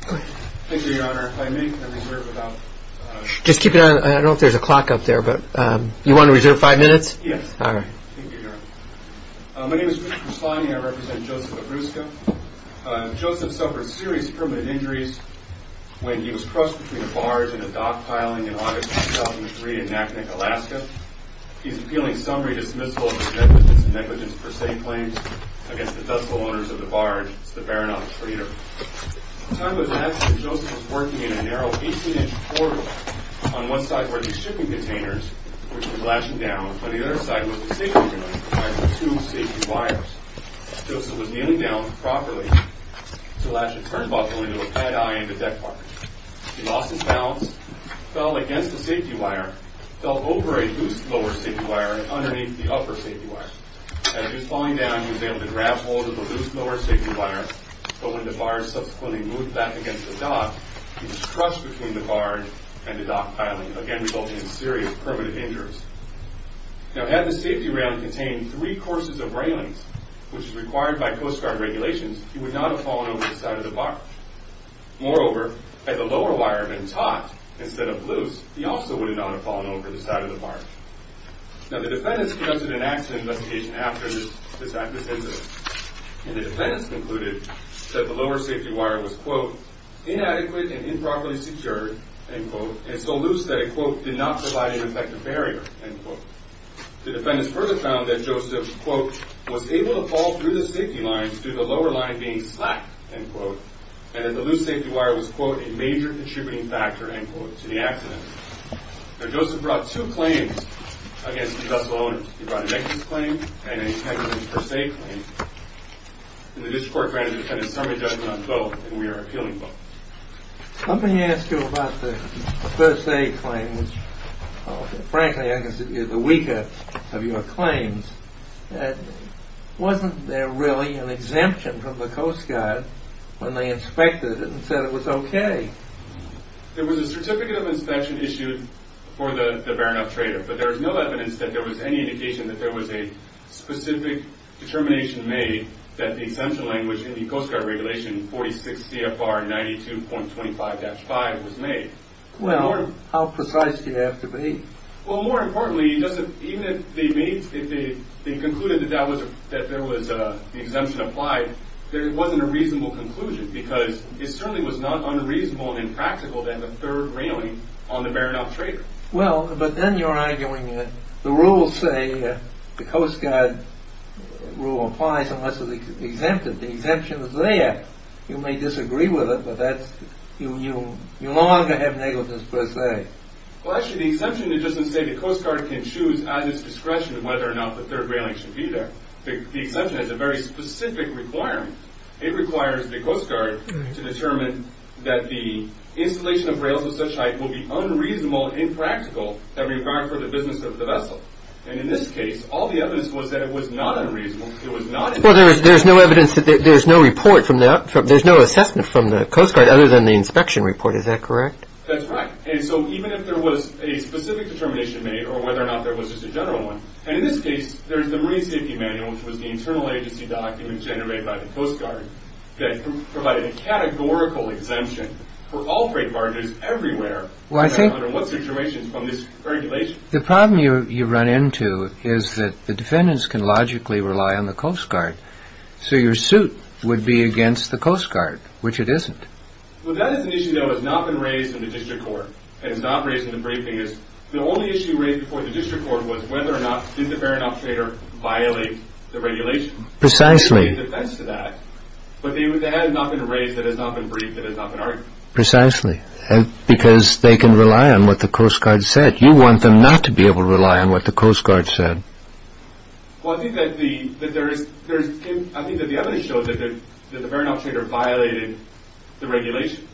My name is Richard Perslany and I represent Joseph Abruska. Joseph suffered serious permanent injuries when he was crushed between a barge and a dock piling in August 2003 in Naknek, Alaska. He is appealing summary dismissal of his negligence per se claims against the dutiful owners of the barge, the Baron of Trader. At the time of his accident, Joseph was working in a narrow 18-inch portal. On one side were the shipping containers, which he was latching down, and on the other side was the safety device providing the two safety wires. Joseph was kneeling down properly to latch a turnbuckle into a pad eye in the deck part. He lost his balance, fell against the safety wire, fell over a loose lower safety wire, and underneath the upper safety wire. As he was falling down, he was able to grab hold of the loose lower safety wire, but when the barge subsequently moved back against the dock, he was crushed between the barge and the dock piling, again resulting in serious permanent injuries. Had the safety rail contained three courses of railings, which is required by Coast Guard regulations, he would not have fallen over the side of the barge. Moreover, had the lower wire been taut instead of loose, he also would not have fallen over the side of the barge. The defendants conducted an accident investigation after this incident. The defendants concluded that the lower safety wire was, quote, inadequate and improperly secured, end quote, and so loose that it, quote, did not provide an effective barrier, end quote. The defendants further found that Joseph, quote, was able to fall through the safety lines due to the lower line being slack, end quote, and that the loose safety wire was, quote, a major contributing factor, end quote, to the accident. Now, Joseph brought two claims against the vessel owner. He brought a negligence claim and a first aid claim, and the district court found that the defendant's summary judgment on both, and we are appealing both. Let me ask you about the first aid claim, which, frankly, I consider the weaker of your claims. Wasn't there really an exemption from the Coast Guard when they inspected it and said it was okay? There was a certificate of inspection issued for the Baron of Trader, but there is no evidence that there was any indication that there was a specific determination made that the exemption language in the Coast Guard Regulation 46 CFR 92.25-5 was made. Well, how precise do you have to be? Well, more importantly, even if they concluded that the exemption applied, there wasn't a reasonable conclusion because it certainly was not unreasonable and impractical to have a third railing on the Baron of Trader. Well, but then you're arguing the rules say the Coast Guard rule applies unless it's exempted. The exemption is there. You may disagree with it, but you no longer have negligence per se. Well, actually, the exemption doesn't say the Coast Guard can choose at its discretion whether or not the third railing should be there. The exemption has a very specific requirement. It requires the Coast Guard to determine that the installation of rails of such height will be unreasonable and impractical for the business of the vessel. And in this case, all the evidence was that it was not unreasonable. It was not. Well, there's no evidence that there's no assessment from the Coast Guard other than the inspection report. Is that correct? That's right. And so even if there was a specific determination made or whether or not there was just a general one. And in this case, there's the Marine Safety Manual, which was the internal agency document generated by the Coast Guard that provided a categorical exemption for all freight barges everywhere. What's the information from this regulation? The problem you run into is that the defendants can logically rely on the Coast Guard. So your suit would be against the Coast Guard, which it isn't. Well, that is an issue that has not been raised in the district court and is not raised in the briefing. The only issue raised before the district court was whether or not did the fair enough trader violate the regulation. Precisely. But that has not been raised, that has not been briefed, that has not been argued. Precisely. Because they can rely on what the Coast Guard said. You want them not to be able to rely on what the Coast Guard said. Well, I think that the evidence shows that the fair enough trader violated the regulation.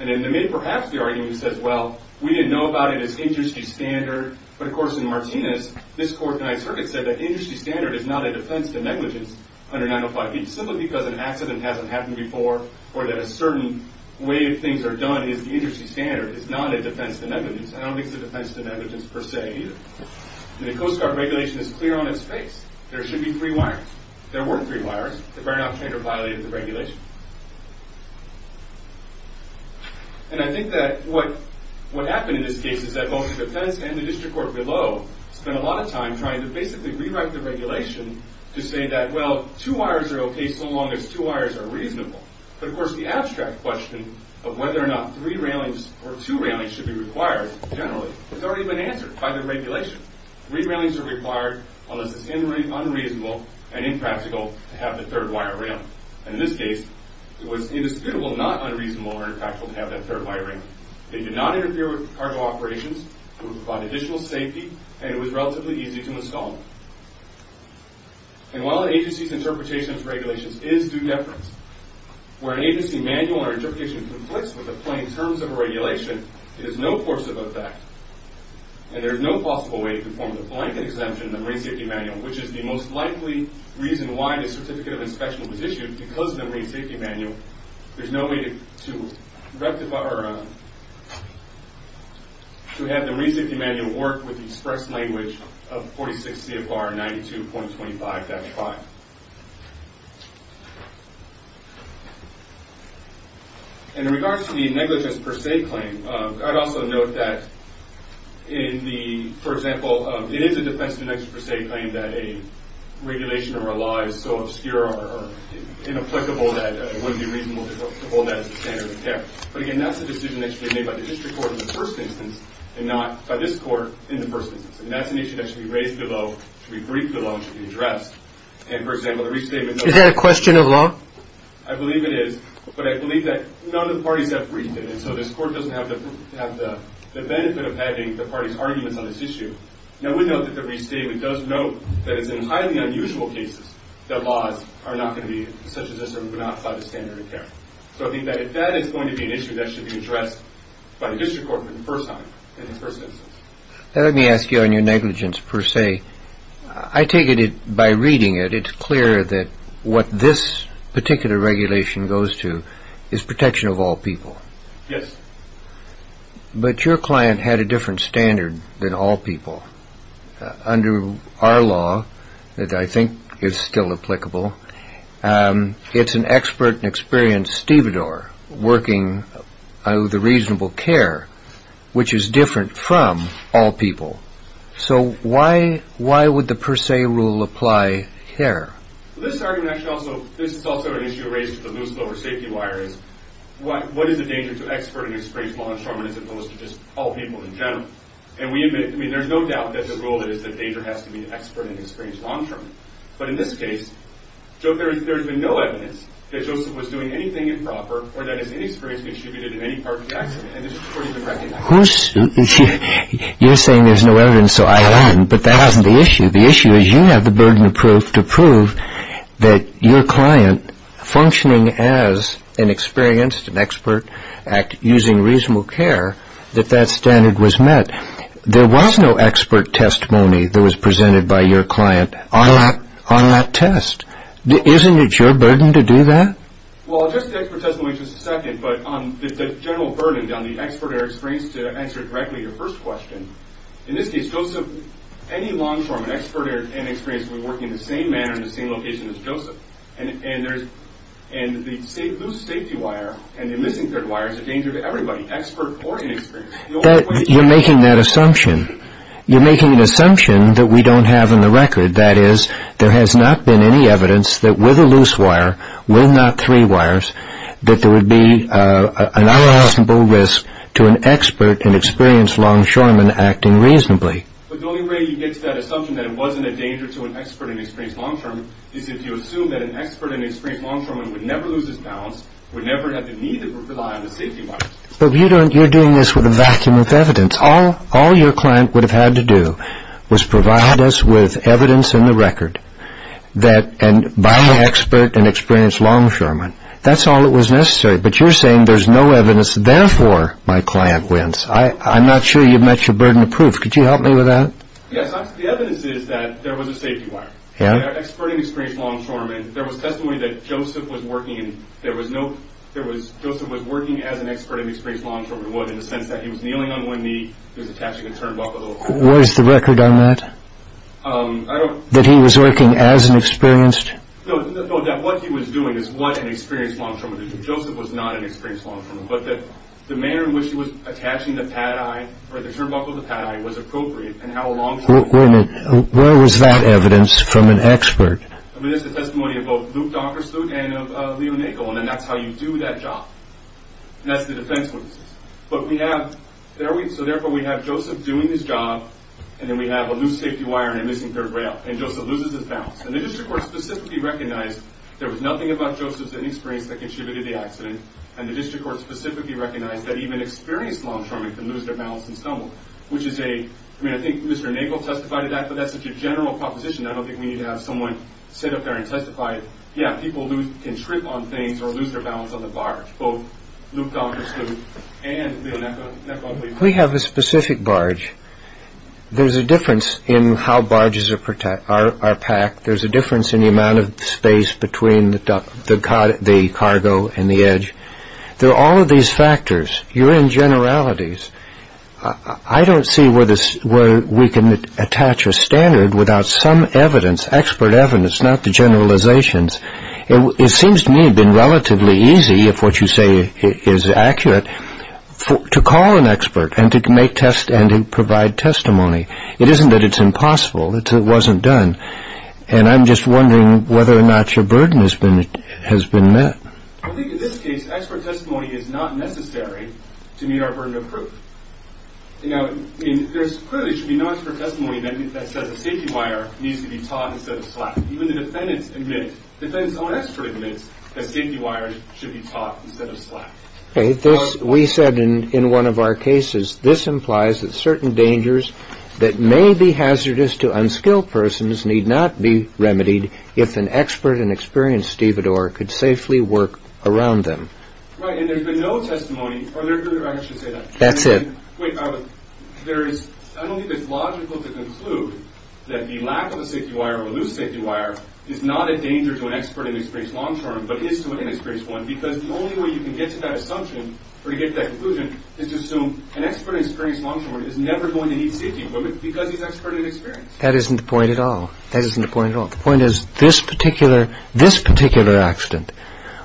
And in the mid, perhaps the argument says, well, we didn't know about it as industry standard. But of course in Martinez, this court and I said that industry standard is not a defense to negligence under 905B. Simply because an accident hasn't happened before or that a certain way things are done is industry standard is not a defense to negligence. I don't think it's a defense to negligence per se either. The Coast Guard regulation is clear on its face. There should be three wires. There were three wires. The fair enough trader violated the regulation. And I think that what happened in this case is that both the defense and the district court below spent a lot of time trying to basically rewrite the regulation to say that, well, two wires are okay so long as two wires are reasonable. But of course the abstract question of whether or not three railings or two railings should be required generally has already been answered by the regulation. Three railings are required unless it's unreasonable and impractical to have the third wire rail. And in this case, it was indisputable not unreasonable or impractical to have that third wire rail. It did not interfere with cargo operations. It would provide additional safety. And it was relatively easy to install. And while an agency's interpretation of its regulations is due deference, where an agency manual or interpretation conflicts with the plain terms of a regulation, it is no force of effect and there is no possible way to perform the blanket exemption in the Marine Safety Manual, which is the most likely reason why the Certificate of Inspection was issued because of the Marine Safety Manual. There's no way to rectify or to have the Marine Safety Manual work with the express language of 46 CFR 92.25-5. And in regards to the negligence per se claim, I'd also note that in the, for example, it is a defense of negligence per se claim that a regulation relies so obscure or inapplicable that it wouldn't be reasonable to hold that as a standard of care. But again, that's a decision that should be made by the district court in the first instance and not by this court in the first instance. And that's an issue that should be raised below, should be briefed below, and should be addressed. Is that a question of law? I believe it is, but I believe that none of the parties have briefed it, and so this court doesn't have the benefit of having the parties' arguments on this issue. Now, we know that the restatement does note that it's in highly unusual cases that laws are not going to be, such as this, removed outside the standard of care. So I think that if that is going to be an issue, that should be addressed by the district court for the first time in the first instance. Let me ask you on your negligence per se. I take it by reading it, it's clear that what this particular regulation goes to is protection of all people. Yes. But your client had a different standard than all people. Under our law, that I think is still applicable, it's an expert and experienced stevedore working on the reasonable care, which is different from all people. So why would the per se rule apply here? This is also an issue raised with the loose lower safety wire. What is the danger to expert and experienced long term, as opposed to just all people in general? And there's no doubt that the rule is that danger has to be expert and experienced long term. But in this case, there's been no evidence that Joseph was doing anything improper or that his inexperience contributed to any part of the accident. You're saying there's no evidence, so I am, but that isn't the issue. The issue is you have the burden to prove that your client functioning as an experienced, an expert at using reasonable care, that that standard was met. There was no expert testimony that was presented by your client on that test. Isn't it your burden to do that? Well, I'll address the expert testimony in just a second, but the general burden on the expert or experienced to answer directly to your first question. In this case, Joseph, any long term, an expert or inexperienced, would be working in the same manner in the same location as Joseph. And the loose safety wire and the missing third wire is a danger to everybody, expert or inexperienced. You're making that assumption. You're making an assumption that we don't have on the record. That is, there has not been any evidence that with a loose wire, with not three wires, that there would be an unassumable risk to an expert and experienced longshoreman acting reasonably. But the only way you get to that assumption that it wasn't a danger to an expert and experienced longshoreman is if you assume that an expert and experienced longshoreman would never lose his balance, would never have the need to rely on the safety wire. But you're doing this with a vacuum of evidence. All your client would have had to do was provide us with evidence in the record by an expert and experienced longshoreman. That's all that was necessary. But you're saying there's no evidence, therefore, my client wins. I'm not sure you've met your burden of proof. Could you help me with that? Yes, the evidence is that there was a safety wire. An expert and experienced longshoreman. There was testimony that Joseph was working as an expert and experienced longshoreman. In the sense that he was kneeling on one knee. He was attaching a turnbuckle. Where's the record on that? That he was working as an experienced? No, that what he was doing is what an experienced longshoreman. Joseph was not an experienced longshoreman. But the manner in which he was attaching the turnbuckle to the paddy was appropriate. Where was that evidence from an expert? I mean, there's the testimony of both Luke Donkerstoot and of Leo Nagle. And that's how you do that job. And that's the defense witnesses. So, therefore, we have Joseph doing his job. And then we have a loose safety wire and a missing third rail. And Joseph loses his balance. And the district court specifically recognized there was nothing about Joseph's inexperience that contributed to the accident. And the district court specifically recognized that even experienced longshoremen can lose their balance and stumble. I mean, I think Mr. Nagle testified to that, but that's such a general proposition. I don't think we need to have someone sit up there and testify. Yeah, people can trip on things or lose their balance on the barge. We have a specific barge. There's a difference in how barges are packed. There's a difference in the amount of space between the cargo and the edge. There are all of these factors. You're in generalities. I don't see where we can attach a standard without some evidence, expert evidence, not the generalizations. It seems to me to have been relatively easy, if what you say is accurate, to call an expert and to provide testimony. It isn't that it's impossible. It wasn't done. And I'm just wondering whether or not your burden has been met. I think in this case, expert testimony is not necessary to meet our burden of proof. You know, there clearly should be no expert testimony that says the safety wire needs to be taught instead of slapped. Even the defendant's own expert admits that safety wires should be taught instead of slapped. We said in one of our cases, this implies that certain dangers that may be hazardous to unskilled persons need not be remedied if an expert and experienced stevedore could safely work around them. Right, and there's been no testimony, or I should say that. That's it. Wait, I don't think it's logical to conclude that the lack of a safety wire or a loose safety wire is not a danger to an expert and experienced longshoreman, but is to an inexperienced one, because the only way you can get to that assumption or to get to that conclusion is to assume an expert and experienced longshoreman is never going to need safety equipment because he's an expert and inexperienced. That isn't the point at all. That isn't the point at all. The point is this particular accident,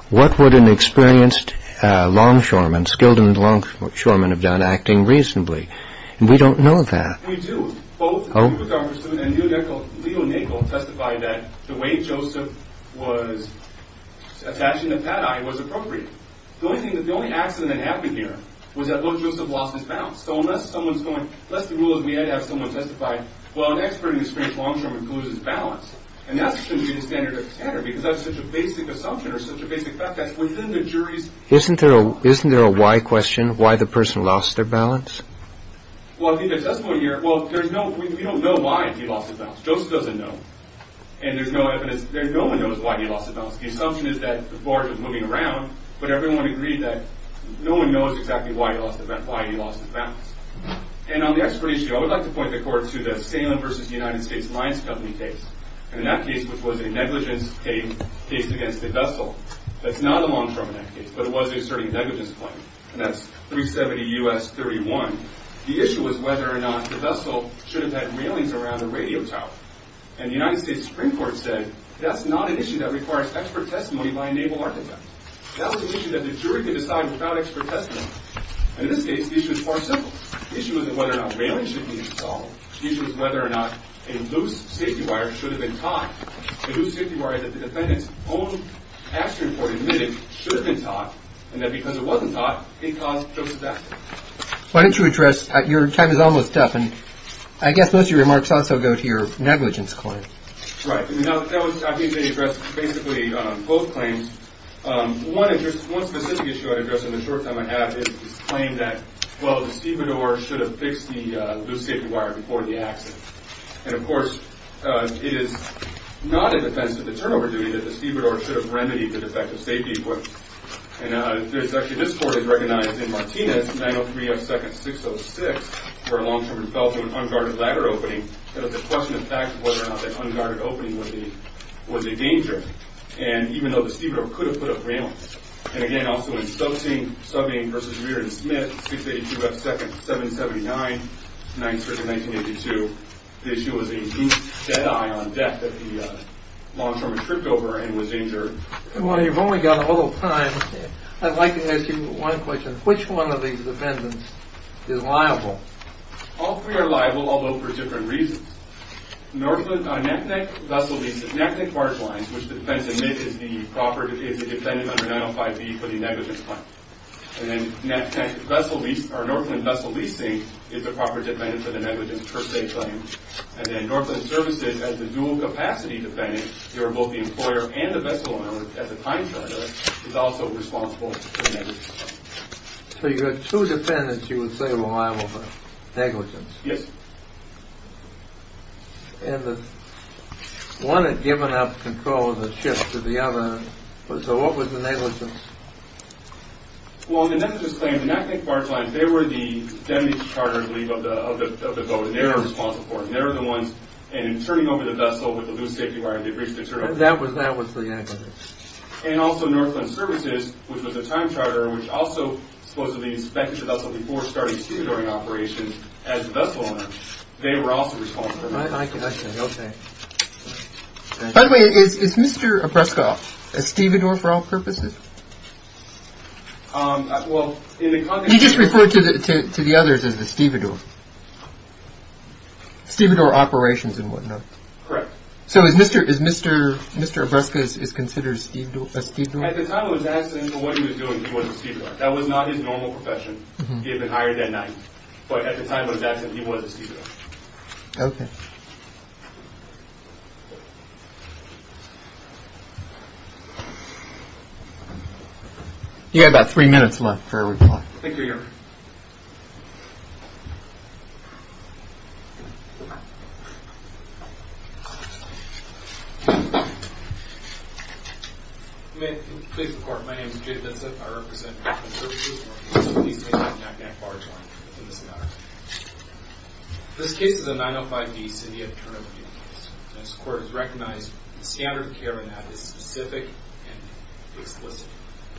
what would an experienced longshoreman, an unskilled longshoreman have done acting reasonably? And we don't know that. We do. Both, in our pursuit, and Leo Nagle testified that the way Joseph was attaching the pad eye was appropriate. The only accident that happened here was that little Joseph lost his balance. So unless someone's going, unless the rule is we had to have someone testify, well, an expert and experienced longshoreman loses balance. And that shouldn't be the standard of the standard because that's such a basic assumption or such a basic fact that's within the jury's... Isn't there a why question? Why the person lost their balance? Well, in the testimony here, well, there's no, we don't know why he lost his balance. Joseph doesn't know. And there's no evidence, no one knows why he lost his balance. The assumption is that the barge was moving around, but everyone agreed that no one knows exactly why he lost his balance. And on the expert issue, I would like to point the court to the Salem v. United States Mines Company case. And in that case, which was a negligence case against a vessel. That's not a longshoreman case, but it was a certain negligence claim. And that's 370 U.S. 31. The issue was whether or not the vessel should have had railings around the radio tower. And the United States Supreme Court said, that's not an issue that requires expert testimony by a naval architect. That's an issue that the jury can decide without expert testimony. And in this case, the issue is far simpler. The issue isn't whether or not railings should be installed. The issue is whether or not a loose safety wire should have been tied. The loose safety wire that the defendant's own accident report admitted should have been tied. And that because it wasn't tied, it caused Joseph's accident. Why don't you address, your time is almost up. And I guess most of your remarks also go to your negligence claim. Right. I think I addressed basically both claims. One specific issue I addressed in the short time I have is this claim that, well, the stevedore should have fixed the loose safety wire before the accident. And, of course, it is not in defense of the turnover duty that the stevedore should have remedied the defective safety equipment. And actually this court has recognized in Martinez, 903 F. 2nd. 606, where a longshipman fell through an unguarded ladder opening, that it was a question of fact whether or not that unguarded opening was a danger. And even though the stevedore could have put up railings. And, again, also in Stokesine, Subbing v. Reardon-Smith, 682 F. 2nd. 779. Ninth Circuit, 1982. The issue was a loose dead eye on deck that the longshoreman tripped over and was injured. Well, you've only got a little time. I'd like to ask you one question. Which one of these defendants is liable? All three are liable, although for different reasons. Northland vessel leasing. Naknek Barge Lines, which the defense admits is the defendant under 905B for the negligence claim. And then Northland Vessel Leasing is the proper defendant for the negligence per se claim. And then Northland Services, as the dual capacity defendant, they're both the employer and the vessel owner at the time of the murder, is also responsible for the negligence claim. So you have two defendants you would say are liable for negligence. Yes. And one had given up control of the ship to the other. So what was the negligence? Well, in the negligence claim, the Naknek Barge Lines, they were the damage charter, I believe, of the boat. And they were responsible for it. And they were the ones. And in turning over the vessel with the loose safety wire, they breached the turn. That was the negligence. And also Northland Services, which was the time charter, which also supposedly inspected the vessel before starting stevedoring operations, as the vessel owner, they were also responsible. I can understand. Okay. By the way, is Mr. Obrezka a stevedore for all purposes? Well, in the context of the – You just referred to the others as the stevedore. Stevedore operations and whatnot. Correct. So is Mr. Obrezka is considered a stevedore? At the time of his accident, what he was doing, he was a stevedore. That was not his normal profession. He had been hired at night. But at the time of his accident, he was a stevedore. Okay. You have about three minutes left for a reply. I think you're here. May I please report? My name is Jay Vincit. I represent Northland Services. Please take the NACDAC barge line in this matter. This case is a 905D severe turn-of-the-wheel case. As the court has recognized, the standard of care in that is specific and explicit.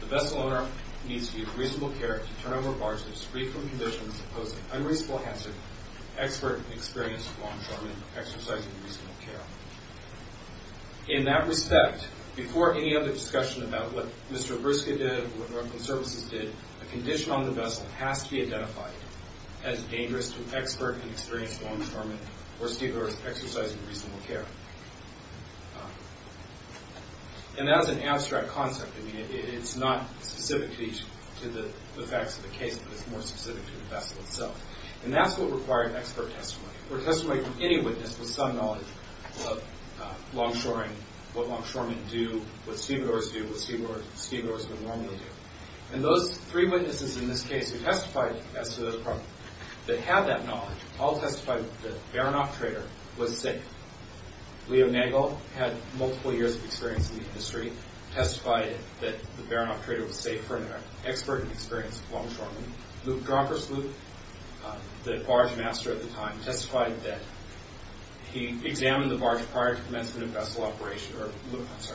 The vessel owner needs to use reasonable care to turn over barges free from conditions that pose an unreasonable hazard to expert and experienced longshoremen exercising reasonable care. In that respect, before any other discussion about what Mr. Obrezka did or what Northland Services did, a condition on the vessel has to be identified as dangerous to expert and experienced longshoremen or stevedores exercising reasonable care. And that is an abstract concept. I mean, it's not specific to the facts of the case, but it's more specific to the vessel itself. And that's what required expert testimony or testimony from any witness with some knowledge of longshoring, what longshoremen do, what stevedores do, what stevedores would normally do. And those three witnesses in this case who testified as to the problem, that had that knowledge, all testified that the Baranoff Trader was safe. Leo Nagel had multiple years of experience in the industry, testified that the Baranoff Trader was safe for an expert and experienced longshoreman. Luke Droppersloop, the barge master at the time, testified that he examined the barge prior to commencement of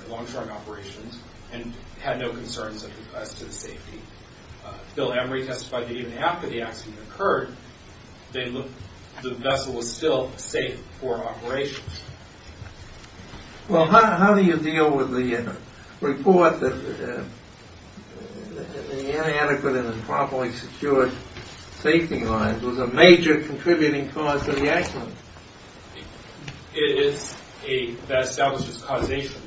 longshoring operations and had no concerns as to the safety. Bill Emery testified that even after the accident occurred, the vessel was still safe for operations. Well, how do you deal with the report that the inadequate and improperly secured safety lines was a major contributing cause to the accident? It is that establishes causation,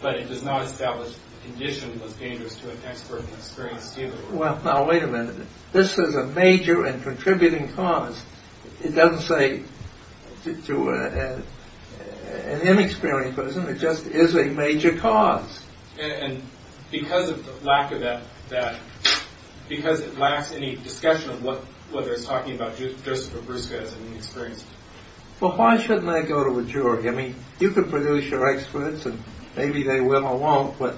but it does not establish the condition was dangerous to an expert and experienced stevedore. Well, now, wait a minute. This is a major and contributing cause. It doesn't say to an inexperienced person. It just is a major cause. And because of the lack of that, because it lacks any discussion of what they're talking about, Joseph Obrusca as an inexperienced stevedore. Well, why shouldn't I go to a jury? I mean, you can produce your experts, and maybe they will or won't, but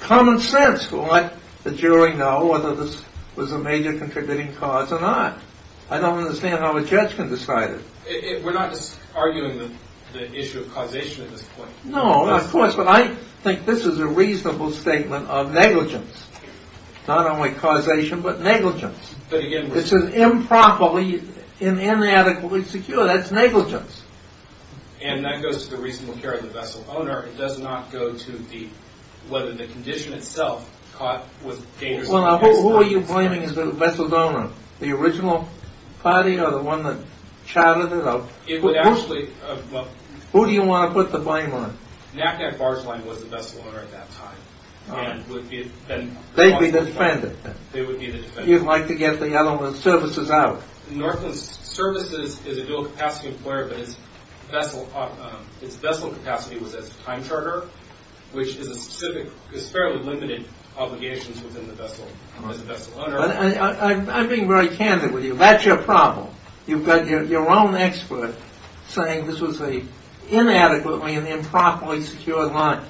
common sense will let the jury know whether this was a major contributing cause or not. I don't understand how a judge can decide it. We're not just arguing the issue of causation at this point. No, of course, but I think this is a reasonable statement of negligence. Not only causation, but negligence. It says improperly and inadequately secure. That's negligence. And that goes to the reasonable care of the vessel owner. It does not go to whether the condition itself was dangerous. Well, now, who are you blaming as the vessel's owner? The original party or the one that chartered it? It would actually— Who do you want to put the blame on? Knack-Knack Barge Line was the vessel owner at that time. They'd be the defendants. They would be the defendants. You'd like to get the other services out. Northland Services is a dual-capacity employer, but its vessel capacity was as a time charter, which is fairly limited obligations as a vessel owner. I'm being very candid with you. That's your problem. You've got your own expert saying this was an inadequately and improperly secured line.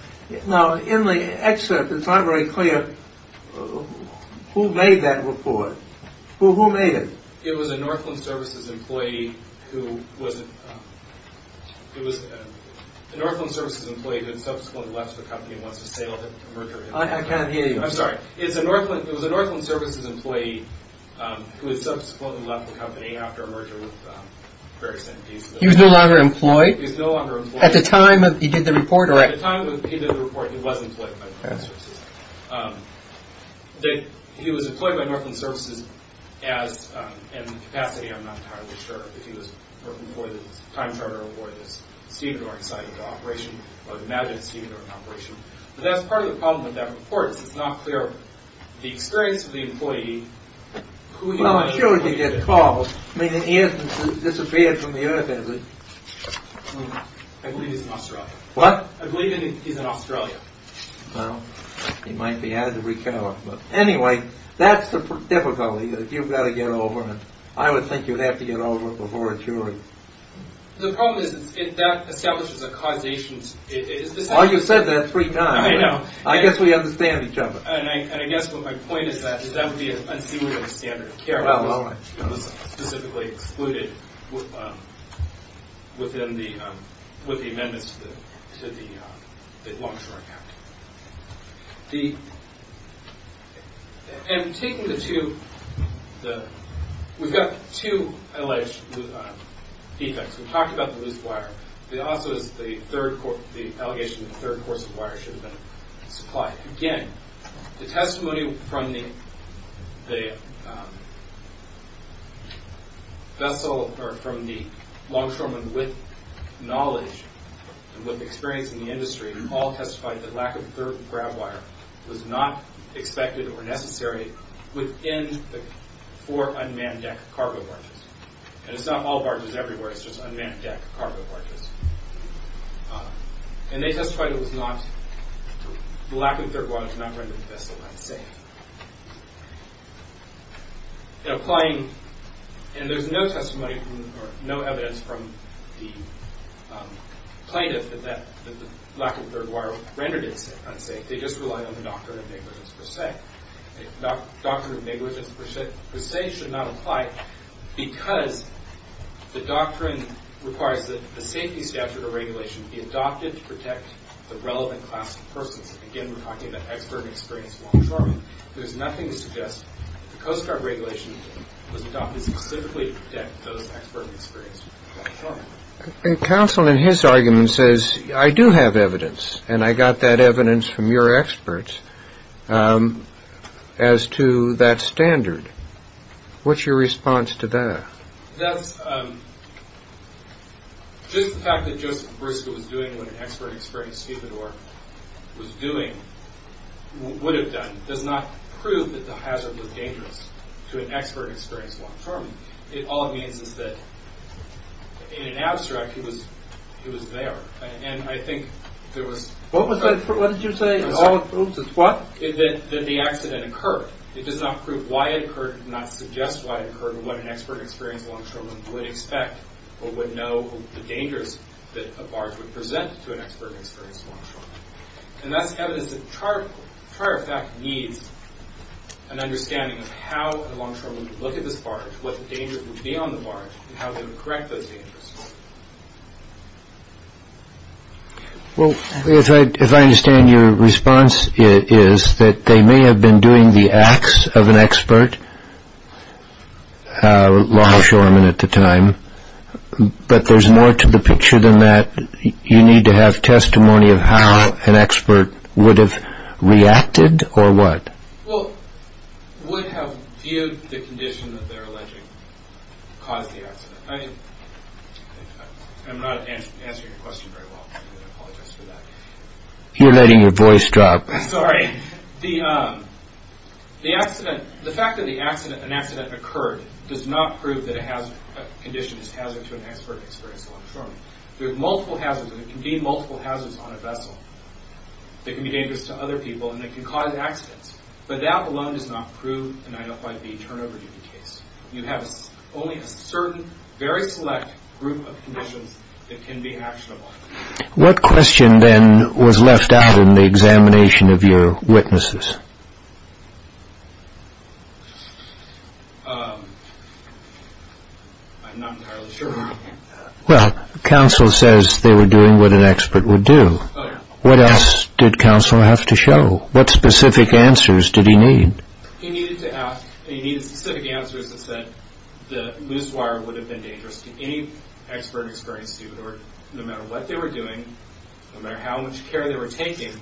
Now, in the excerpt, it's not very clear who made that report. Well, who made it? It was a Northland Services employee who wasn't— It was a Northland Services employee who had subsequently left the company and wants to sale the merger. I can't hear you. I'm sorry. It was a Northland Services employee who had subsequently left the company after a merger with Ferris Energy. He was no longer employed? He was no longer employed. At the time he did the report? At the time he did the report, he was employed by Northland Services. He was employed by Northland Services in a capacity I'm not entirely sure of. If he was an employee that was a time charter or if he was a stevedore inside of the operation, or imagine a stevedore in an operation. But that's part of the problem with that report. It's not clear the experience of the employee, who he might be. Well, I'm sure he didn't get called. In any instance, he disappeared from the Earth, isn't he? I believe he's in Australia. What? I believe he's in Australia. Well, he might be had to recalibrate. Anyway, that's the difficulty. You've got to get over it. I would think you'd have to get over it before a jury. The problem is that establishes a causation. You said that three times. I know. I guess we understand each other. I guess my point is that that would be an unsuitable standard of care if it was specifically excluded with the amendments to the Longshore Act. We've got two alleged defects. We've talked about the loose wire. There also is the allegation that a third course of wire should have been supplied. Again, the testimony from the Longshoremen with knowledge and with experience in the industry all testified that lack of grab wire was not expected or necessary within the four unmanned deck cargo barges. And it's not all barges everywhere. It's just unmanned deck cargo barges. And they testified it was not, the lack of third wire did not render the vessel unsafe. In applying, and there's no testimony or no evidence from the plaintiff that the lack of third wire rendered it unsafe. They just relied on the doctrine of negligence per se. The doctrine of negligence per se should not apply because the doctrine requires that the safety statute or regulation be adopted to protect the relevant class of persons. Again, we're talking about expert experience Longshoremen. There's nothing to suggest that the Coast Guard regulation was adopted specifically to protect those expert experience Longshoremen. Counsel in his argument says, I do have evidence, and I got that evidence from your experts. As to that standard, what's your response to that? That's, just the fact that Joseph Briscoe was doing what an expert experience stevedore was doing, would have done, does not prove that the hazard was dangerous to an expert experience Longshoreman. All it means is that, in an abstract, he was there. What did you say? All it proves is what? That the accident occurred. It does not prove why it occurred, it does not suggest why it occurred, or what an expert experience Longshoreman would expect, or would know, the dangers that a barge would present to an expert experience Longshoreman. And that's evidence that charter fact needs an understanding of how a Longshoreman would look at this barge, what dangers would be on the barge, and how they would correct those dangers. Well, if I understand your response, it is that they may have been doing the acts of an expert Longshoreman at the time, but there's more to the picture than that. You need to have testimony of how an expert would have reacted, or what? Well, would have viewed the condition that they're alleging caused the accident. I'm not answering your question very well. I apologize for that. You're letting your voice drop. Sorry. The fact that an accident occurred does not prove that a condition is hazard to an expert experience Longshoreman. There are multiple hazards, and there can be multiple hazards on a vessel. They can be dangerous to other people, and they can cause accidents. But that alone does not prove, and I don't buy the turnover duty case. You have only a certain, very select group of conditions that can be actionable. What question then was left out in the examination of your witnesses? I'm not entirely sure. Well, counsel says they were doing what an expert would do. What else did counsel have to show? What specific answers did he need? He needed to ask, and he needed specific answers that said the loose wire would have been dangerous to any expert experience student, no matter what they were doing, no matter how much care they were taking.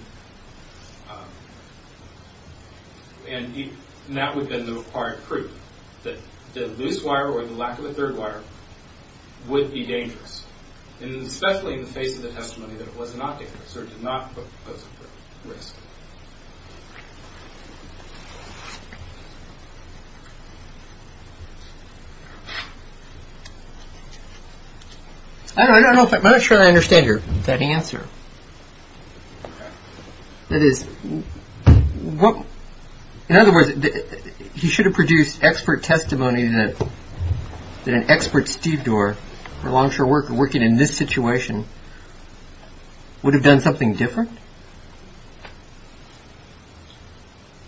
And that would have been the required proof, that the loose wire or the lack of a third wire would be dangerous, especially in the face of the testimony that it was not dangerous or did not pose a risk. I'm not sure I understand that answer. That is, in other words, he should have produced expert testimony that an expert stevedore or longshore worker working in this situation would have done something different?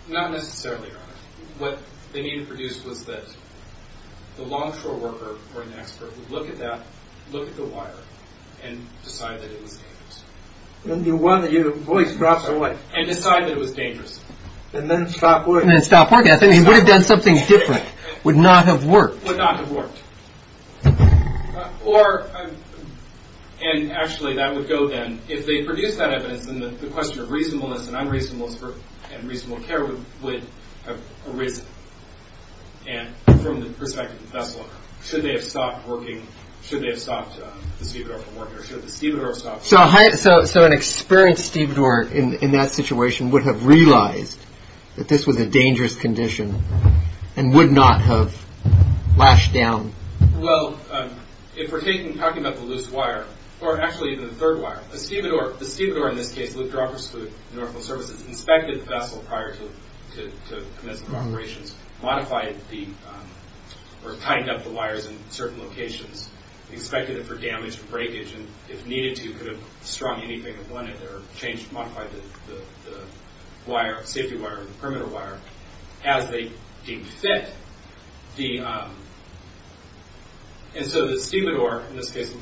Not necessarily, Your Honor. What they needed to produce was that the longshore worker or an expert would look at that, look at the wire, and decide that it was dangerous. And the one that your voice drops away. And decide that it was dangerous. And then stop working. And then stop working. I think he would have done something different, would not have worked. Or, and actually that would go then, if they produced that evidence, then the question of reasonableness and unreasonableness and reasonable care would have arisen. And from the perspective of the vessel, should they have stopped working, should they have stopped the stevedore from working, or should the stevedore have stopped working? So an experienced stevedore in that situation would have realized that this was a dangerous condition and would not have lashed down. Well, if we're talking about the loose wire, or actually even the third wire, the stevedore, in this case, Luke Dropper's fleet, Norfolk Services, inspected the vessel prior to commencement of operations, modified the, or tightened up the wires in certain locations, expected it for damage and breakage, and if needed to, could have strung anything that went in there, or changed, modified the wire, the safety wire, the perimeter wire, as they deemed fit. And so the stevedore, in this case,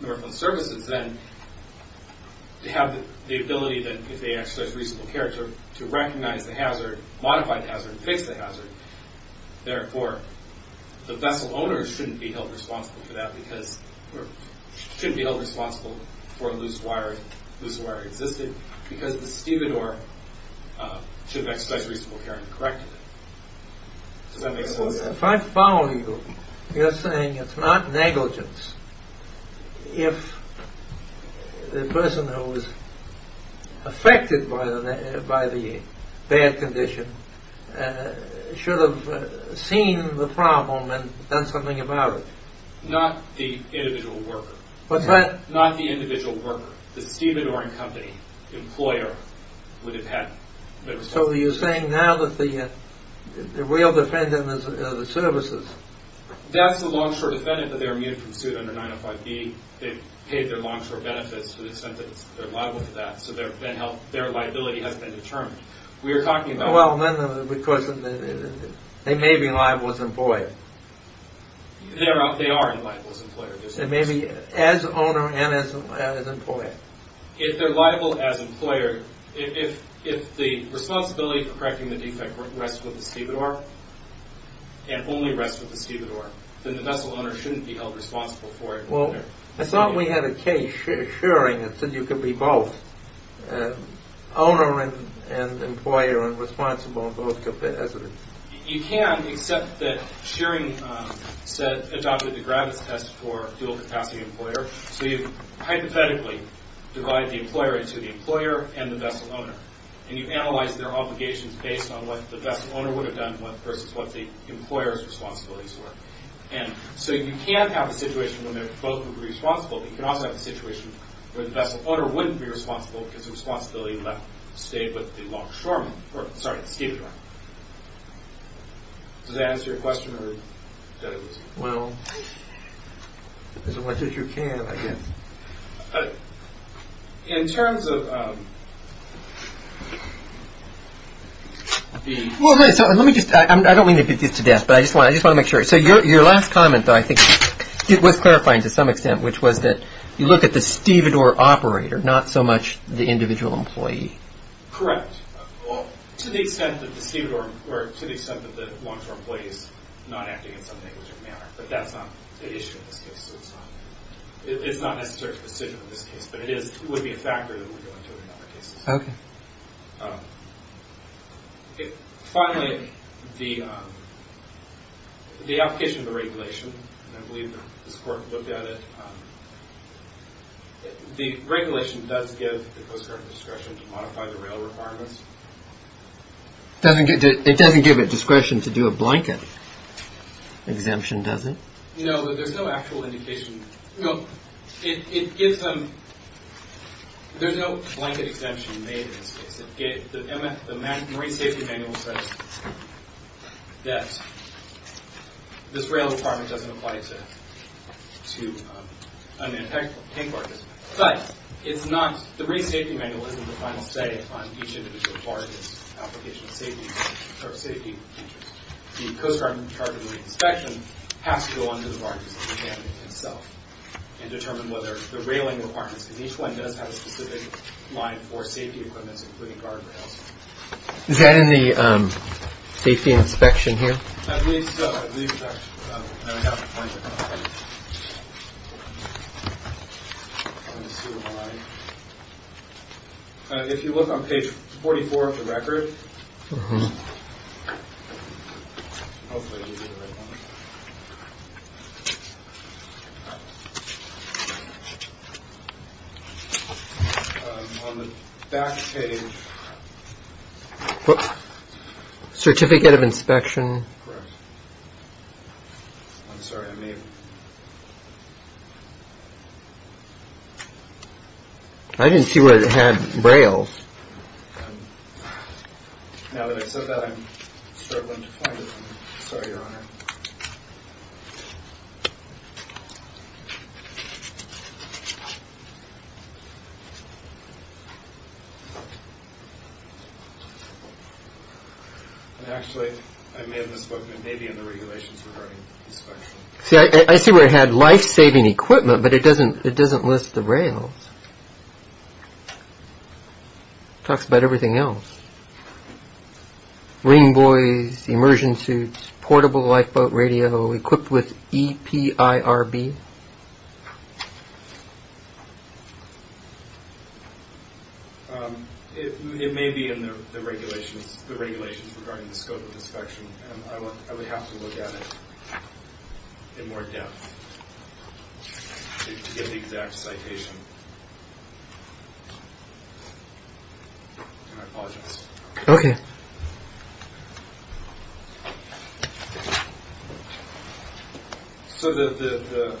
Norfolk Services, then, to have the ability that, if they exercised reasonable care, to recognize the hazard, modify the hazard, fix the hazard, therefore, the vessel owner shouldn't be held responsible for that, because the stevedore should have exercised reasonable care and corrected it. If I follow you, you're saying it's not negligence if the person who was affected by the bad condition should have seen the problem and done something about it. Not the individual worker. What's that? Not the individual worker. The stevedoring company employer would have had... So you're saying now that the real defendant is the services. That's the long-short defendant that they're immune from suit under 905B. They've paid their long-short benefits to the extent that they're liable for that, so their liability has been determined. We're talking about... Well, because they may be liable as employer. They are liable as employer. They may be as owner and as employer. If they're liable as employer, if the responsibility for correcting the defect rests with the stevedore, and only rests with the stevedore, then the vessel owner shouldn't be held responsible for it. Well, I thought we had a case, Shearing, that said you could be both owner and employer and responsible in both capacities. You can, except that Shearing adopted the Gravis test for dual-capacity employer, so you hypothetically divide the employer into the employer and the vessel owner, and you analyze their obligations based on what the vessel owner would have done versus what the employer's responsibilities were. So you can have a situation where both would be responsible, but you can also have a situation where the vessel owner wouldn't be responsible because the responsibility stayed with the longshoreman. Sorry, the stevedore. Does that answer your question? Well, as much as you can, I guess. In terms of the... Well, let me just... I don't mean to beat this to death, but I just want to make sure. So your last comment, though, I think it was clarifying to some extent, which was that you look at the stevedore operator, not so much the individual employee. Correct. Well, to the extent that the stevedore, or to the extent that the longshore employee is not acting in some negligent manner, but that's not the issue in this case, so it's not... It's not necessarily a decision in this case, but it would be a factor that we're going to in other cases. Okay. Finally, the application of the regulation, and I believe that this Court looked at it, the regulation does give the Coast Guard discretion to modify the rail requirements. It doesn't give it discretion to do a blanket exemption, does it? No, there's no actual indication... No, it gives them... There's no blanket exemption made in this case. The Marine Safety Manual says that this rail requirement doesn't apply to unmanned tank barges, but it's not... The Marine Safety Manual isn't the final say on each individual barge's application of safety measures. The Coast Guard, in the inspection, has to go on to the barges themselves and determine whether the railing requirements, because each one does have a specific line for safety equipments, including guardrails. Is that in the safety inspection here? At least... If you look on page 44 of the record... Oops. Certificate of inspection. Correct. I'm sorry, I may have... I didn't see where it had rails. Now that I said that, I'm struggling to find it. Sorry, Your Honor. Actually, I may have misspoken. It may be in the regulations regarding inspection. See, I see where it had life-saving equipment, but it doesn't list the rails. It talks about everything else. Marine boys, immersion suits, portable lifeboat radio, equipped with EPIRB. Okay. It may be in the regulations regarding the scope of inspection, and I would have to look at it in more depth to get the exact citation. And I apologize. Okay. Thank you. So the...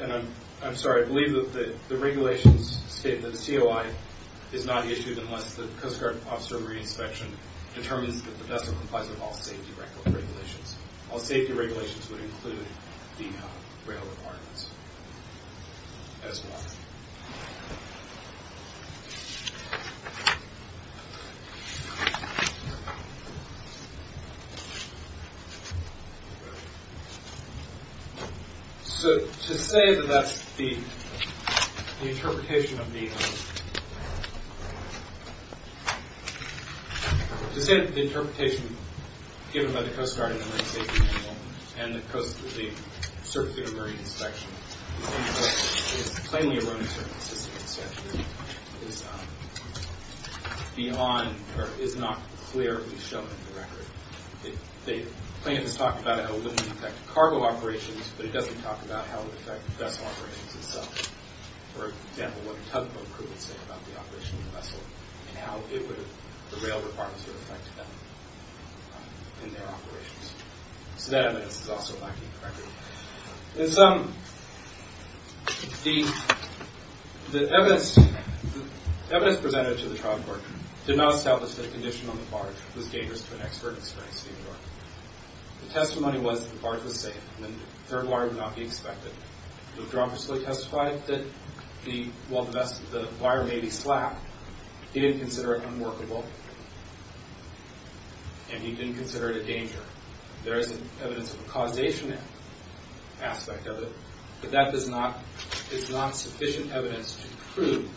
And I'm sorry, I believe that the regulations state that the COI is not issued unless the Coast Guard officer of re-inspection determines that the vessel complies with all safety regulations. All safety regulations would include the rail requirements as well. So to say that that's the interpretation of the... To say that the interpretation given by the Coast Guard in the marine safety manual and the certificate of marine inspection is plainly erroneous or inconsistent is beyond or is not clearly shown in the record. The plaintiff has talked about how it would affect cargo operations, but it doesn't talk about how it would affect the vessel operations itself. For example, what the tugboat crew would say about the operation of the vessel and how the rail requirements would affect them in their operations. So that evidence is also lacking in the record. In sum, the evidence presented to the trial court did not establish that a condition on the barge was dangerous to an expert experienced in New York. The testimony was that the barge was safe and that the third wire would not be expected. The withdraw personally testified that while the wire may be slack, he didn't consider it unworkable and he didn't consider it a danger. There is evidence of a causation aspect of it, but that is not sufficient evidence to prove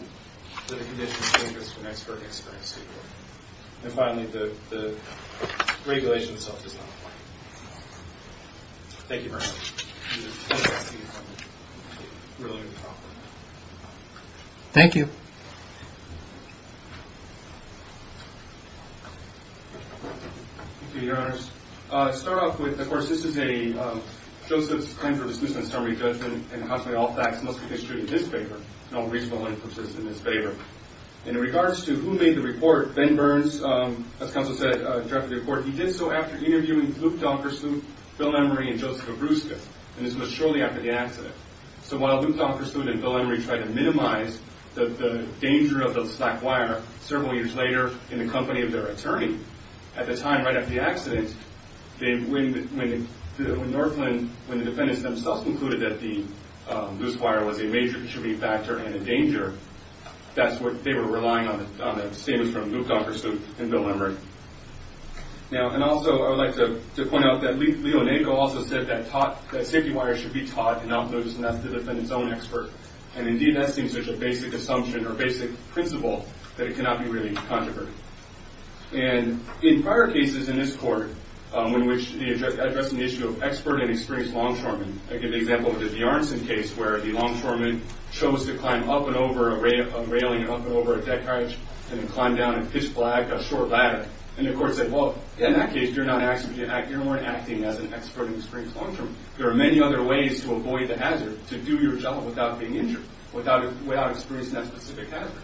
that a condition is dangerous to an expert experienced in New York. And finally, the regulation itself is not plain. Thank you very much. Thank you. Thank you. Thank you, Your Honors. I'll start off with, of course, this is Joseph's claim for dismissal and summary judgment and, consequently, all facts must be distributed in his favor, no reason why it persists in his favor. In regards to who made the report, Ben Burns, as counsel said, drafted the report. He did so after interviewing Luke Donkerson, Bill Emery, and Joseph Obruska, and this was shortly after the accident. So while Luke Donkerson and Bill Emery tried to minimize the danger of the slack wire several years later in the company of their attorney, at the time right after the accident, when Northland, when the defendants themselves concluded that the loose wire was a major contributing factor and a danger, that's what they were relying on, the statements from Luke Donkerson and Bill Emery. Now, and also I would like to point out that Leo Nago also said that safety wire should be taught and not noticed, and that's the defendant's own expert. And, indeed, that seems such a basic assumption or basic principle that it cannot be really controversy. And in prior cases in this court in which they addressed an issue of expert and experienced longshoremen, I give the example of the Bjarnson case where the longshoremen chose to climb up and over a railing and up and over a deck hatch and then climb down and pitch flag a short ladder. And the court said, well, in that case, you're not acting as an expert and experienced longshoreman. There are many other ways to avoid the hazard, to do your job without being injured, without experiencing that specific hazard.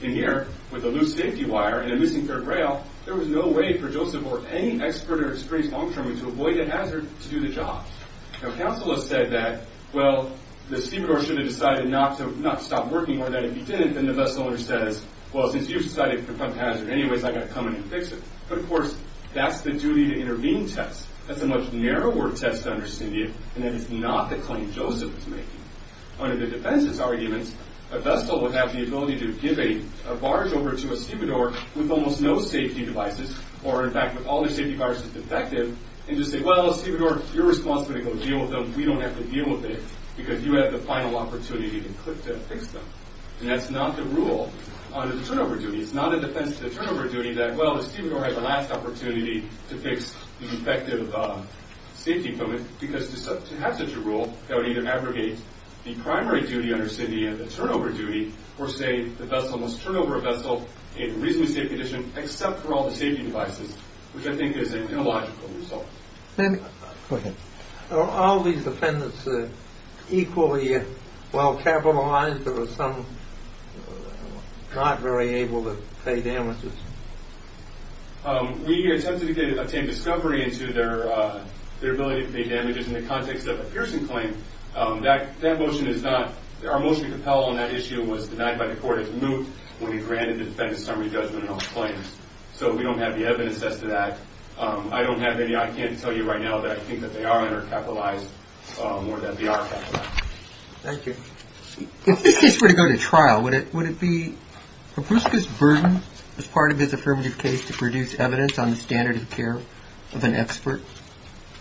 In here, with the loose safety wire and a missing third rail, there was no way for Joseph or any expert or experienced longshoreman to avoid the hazard to do the job. Now, counsel has said that, well, the stevedore should have decided not to stop working or that if he didn't, then the vessel owner says, well, since you've decided to prevent the hazard anyways, I've got to come in and fix it. But, of course, that's the duty to intervene test. That's a much narrower test to understand you, and that is not the claim Joseph is making. Under the defense's arguments, a vessel will have the ability to give a barge over to a stevedore with almost no safety devices or, in fact, with all their safety bars defective and just say, well, stevedore, you're responsible to go deal with them. We don't have to deal with it because you had the final opportunity to fix them. And that's not the rule under the turnover duty. It's not in defense to the turnover duty that, well, the stevedore had the last opportunity to fix the defective safety equipment because to have such a rule, that would either abrogate the primary duty under SINDI and the turnover duty, or say, the vessel must turn over a vessel in reasonably safe condition except for all the safety devices, which I think is an illogical result. Go ahead. Are all these defendants equally well capitalized or is there some not very able to pay damages? We attempted to obtain discovery into their ability to pay damages in the context of a Pearson claim. That motion is not... Our motion to compel on that issue was denied by the court as moot when we granted the defendant summary judgment on the claim. So we don't have the evidence as to that. I don't have any. I can't tell you right now that I think that they are undercapitalized more than they are capitalized. Thank you. If this case were to go to trial, would it be Hrabuska's burden as part of his affirmative case to produce evidence on the standard of care of an expert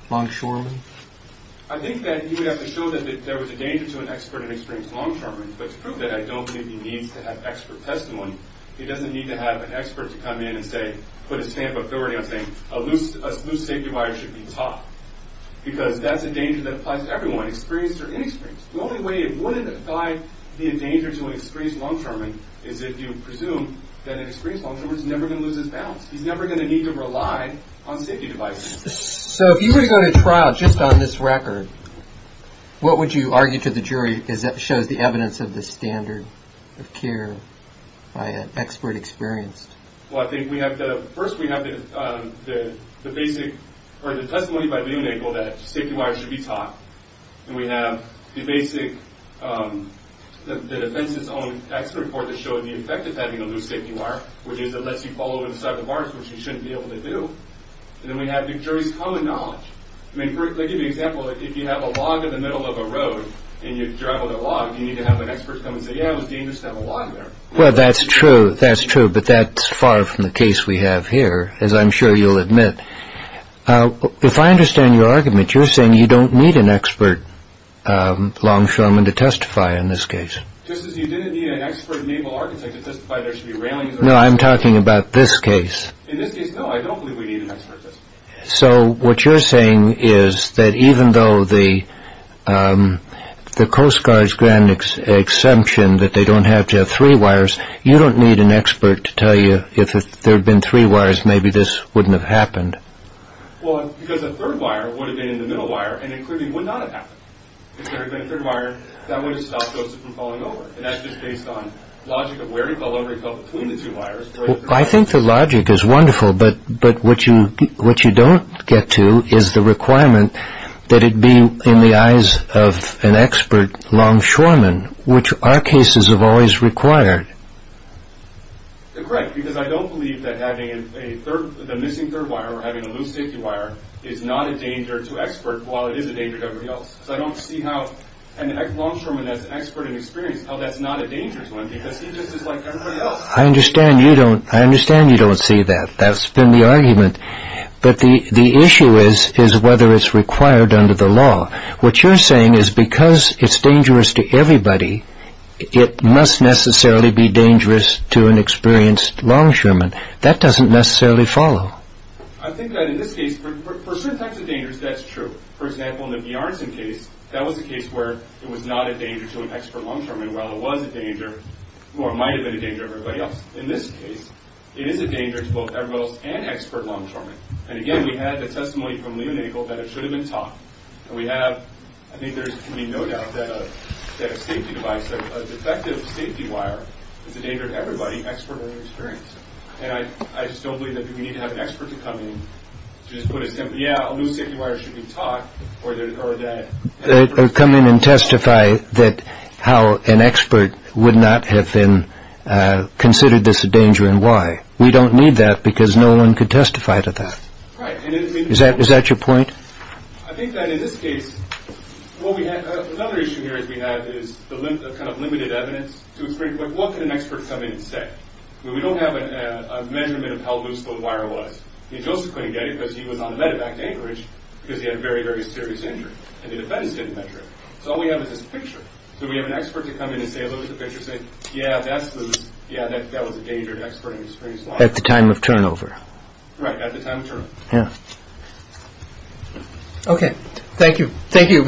longshoreman? I think that he would have to show that there was a danger to an expert in experience longshoreman, but to prove that, I don't think he needs to have expert testimony. He doesn't need to have an expert to come in and say, put a stamp of authority on saying, a loose safety wire should be taught because that's a danger that applies to everyone, experienced or inexperienced. The only way it wouldn't apply the danger to an experienced longshoreman is if you presume that an experienced longshoreman is never going to lose his balance. He's never going to need to rely on safety devices. So if you were to go to trial just on this record, what would you argue to the jury that shows the evidence of the standard of care by an expert experienced? Well, I think we have to... that safety wires should be taught. And we have the basic... the defense's own expert report that showed the effect of having a loose safety wire, which is it lets you fall over the side of the bars, which you shouldn't be able to do. And then we have the jury's common knowledge. I mean, for example, if you have a log in the middle of a road and you drive on the log, you need to have an expert come and say, yeah, it was dangerous to have a log there. Well, that's true. That's true. But that's far from the case we have here, as I'm sure you'll admit. If I understand your argument, you're saying you don't need an expert longshoreman to testify in this case. Just as you didn't need an expert naval architect to testify, there should be railings... No, I'm talking about this case. In this case, no. I don't believe we need an expert. So what you're saying is that even though the Coast Guard's granted an exemption that they don't have to have three wires, you don't need an expert to tell you that if there had been three wires, maybe this wouldn't have happened. Well, because a third wire would have been in the middle wire and it clearly would not have happened. If there had been a third wire, that would have stopped Joseph from falling over. And that's just based on logic of where he fell over. He fell between the two wires. I think the logic is wonderful, but what you don't get to is the requirement that it be in the eyes of an expert longshoreman, which our cases have always required. Correct. Because I don't believe that having the missing third wire or having a loose safety wire is not a danger to experts while it is a danger to everybody else. So I don't see how an longshoreman that's an expert in experience, how that's not a danger to him because he just is like everybody else. I understand you don't see that. That's been the argument. But the issue is whether it's required under the law. What you're saying is because it's dangerous to everybody, it must necessarily be dangerous to an experienced longshoreman. That doesn't necessarily follow. I think that in this case, for certain types of dangers, that's true. For example, in the Bjarnson case, that was a case where it was not a danger to an expert longshoreman while it was a danger, or it might have been a danger to everybody else. In this case, it is a danger to both everybody else and expert longshoremen. And again, we have the testimony from Lee and Engel that it should have been taught. I think there's no doubt that a safety device, a defective safety wire, is a danger to everybody, expert or inexperienced. And I just don't believe that we need to have an expert to come in to just put a simple, yeah, a loose safety wire should be taught. Or come in and testify that how an expert would not have been considered this a danger and why. We don't need that because no one could testify to that. Is that your point? I think that in this case, another issue here is we have kind of limited evidence. What can an expert come in and say? We don't have a measurement of how loose the wire was. Joseph couldn't get it because he was on the medevac to Anchorage because he had a very, very serious injury. And the defense didn't measure it. So all we have is this picture. So we have an expert to come in and say, look at the picture and say, yeah, that's loose. Yeah, that was a danger to an expert inexperienced longshoreman. At the time of turnover. Right, at the time of turnover. Yeah. Okay. Thank you. Thank you.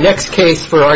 Thank you.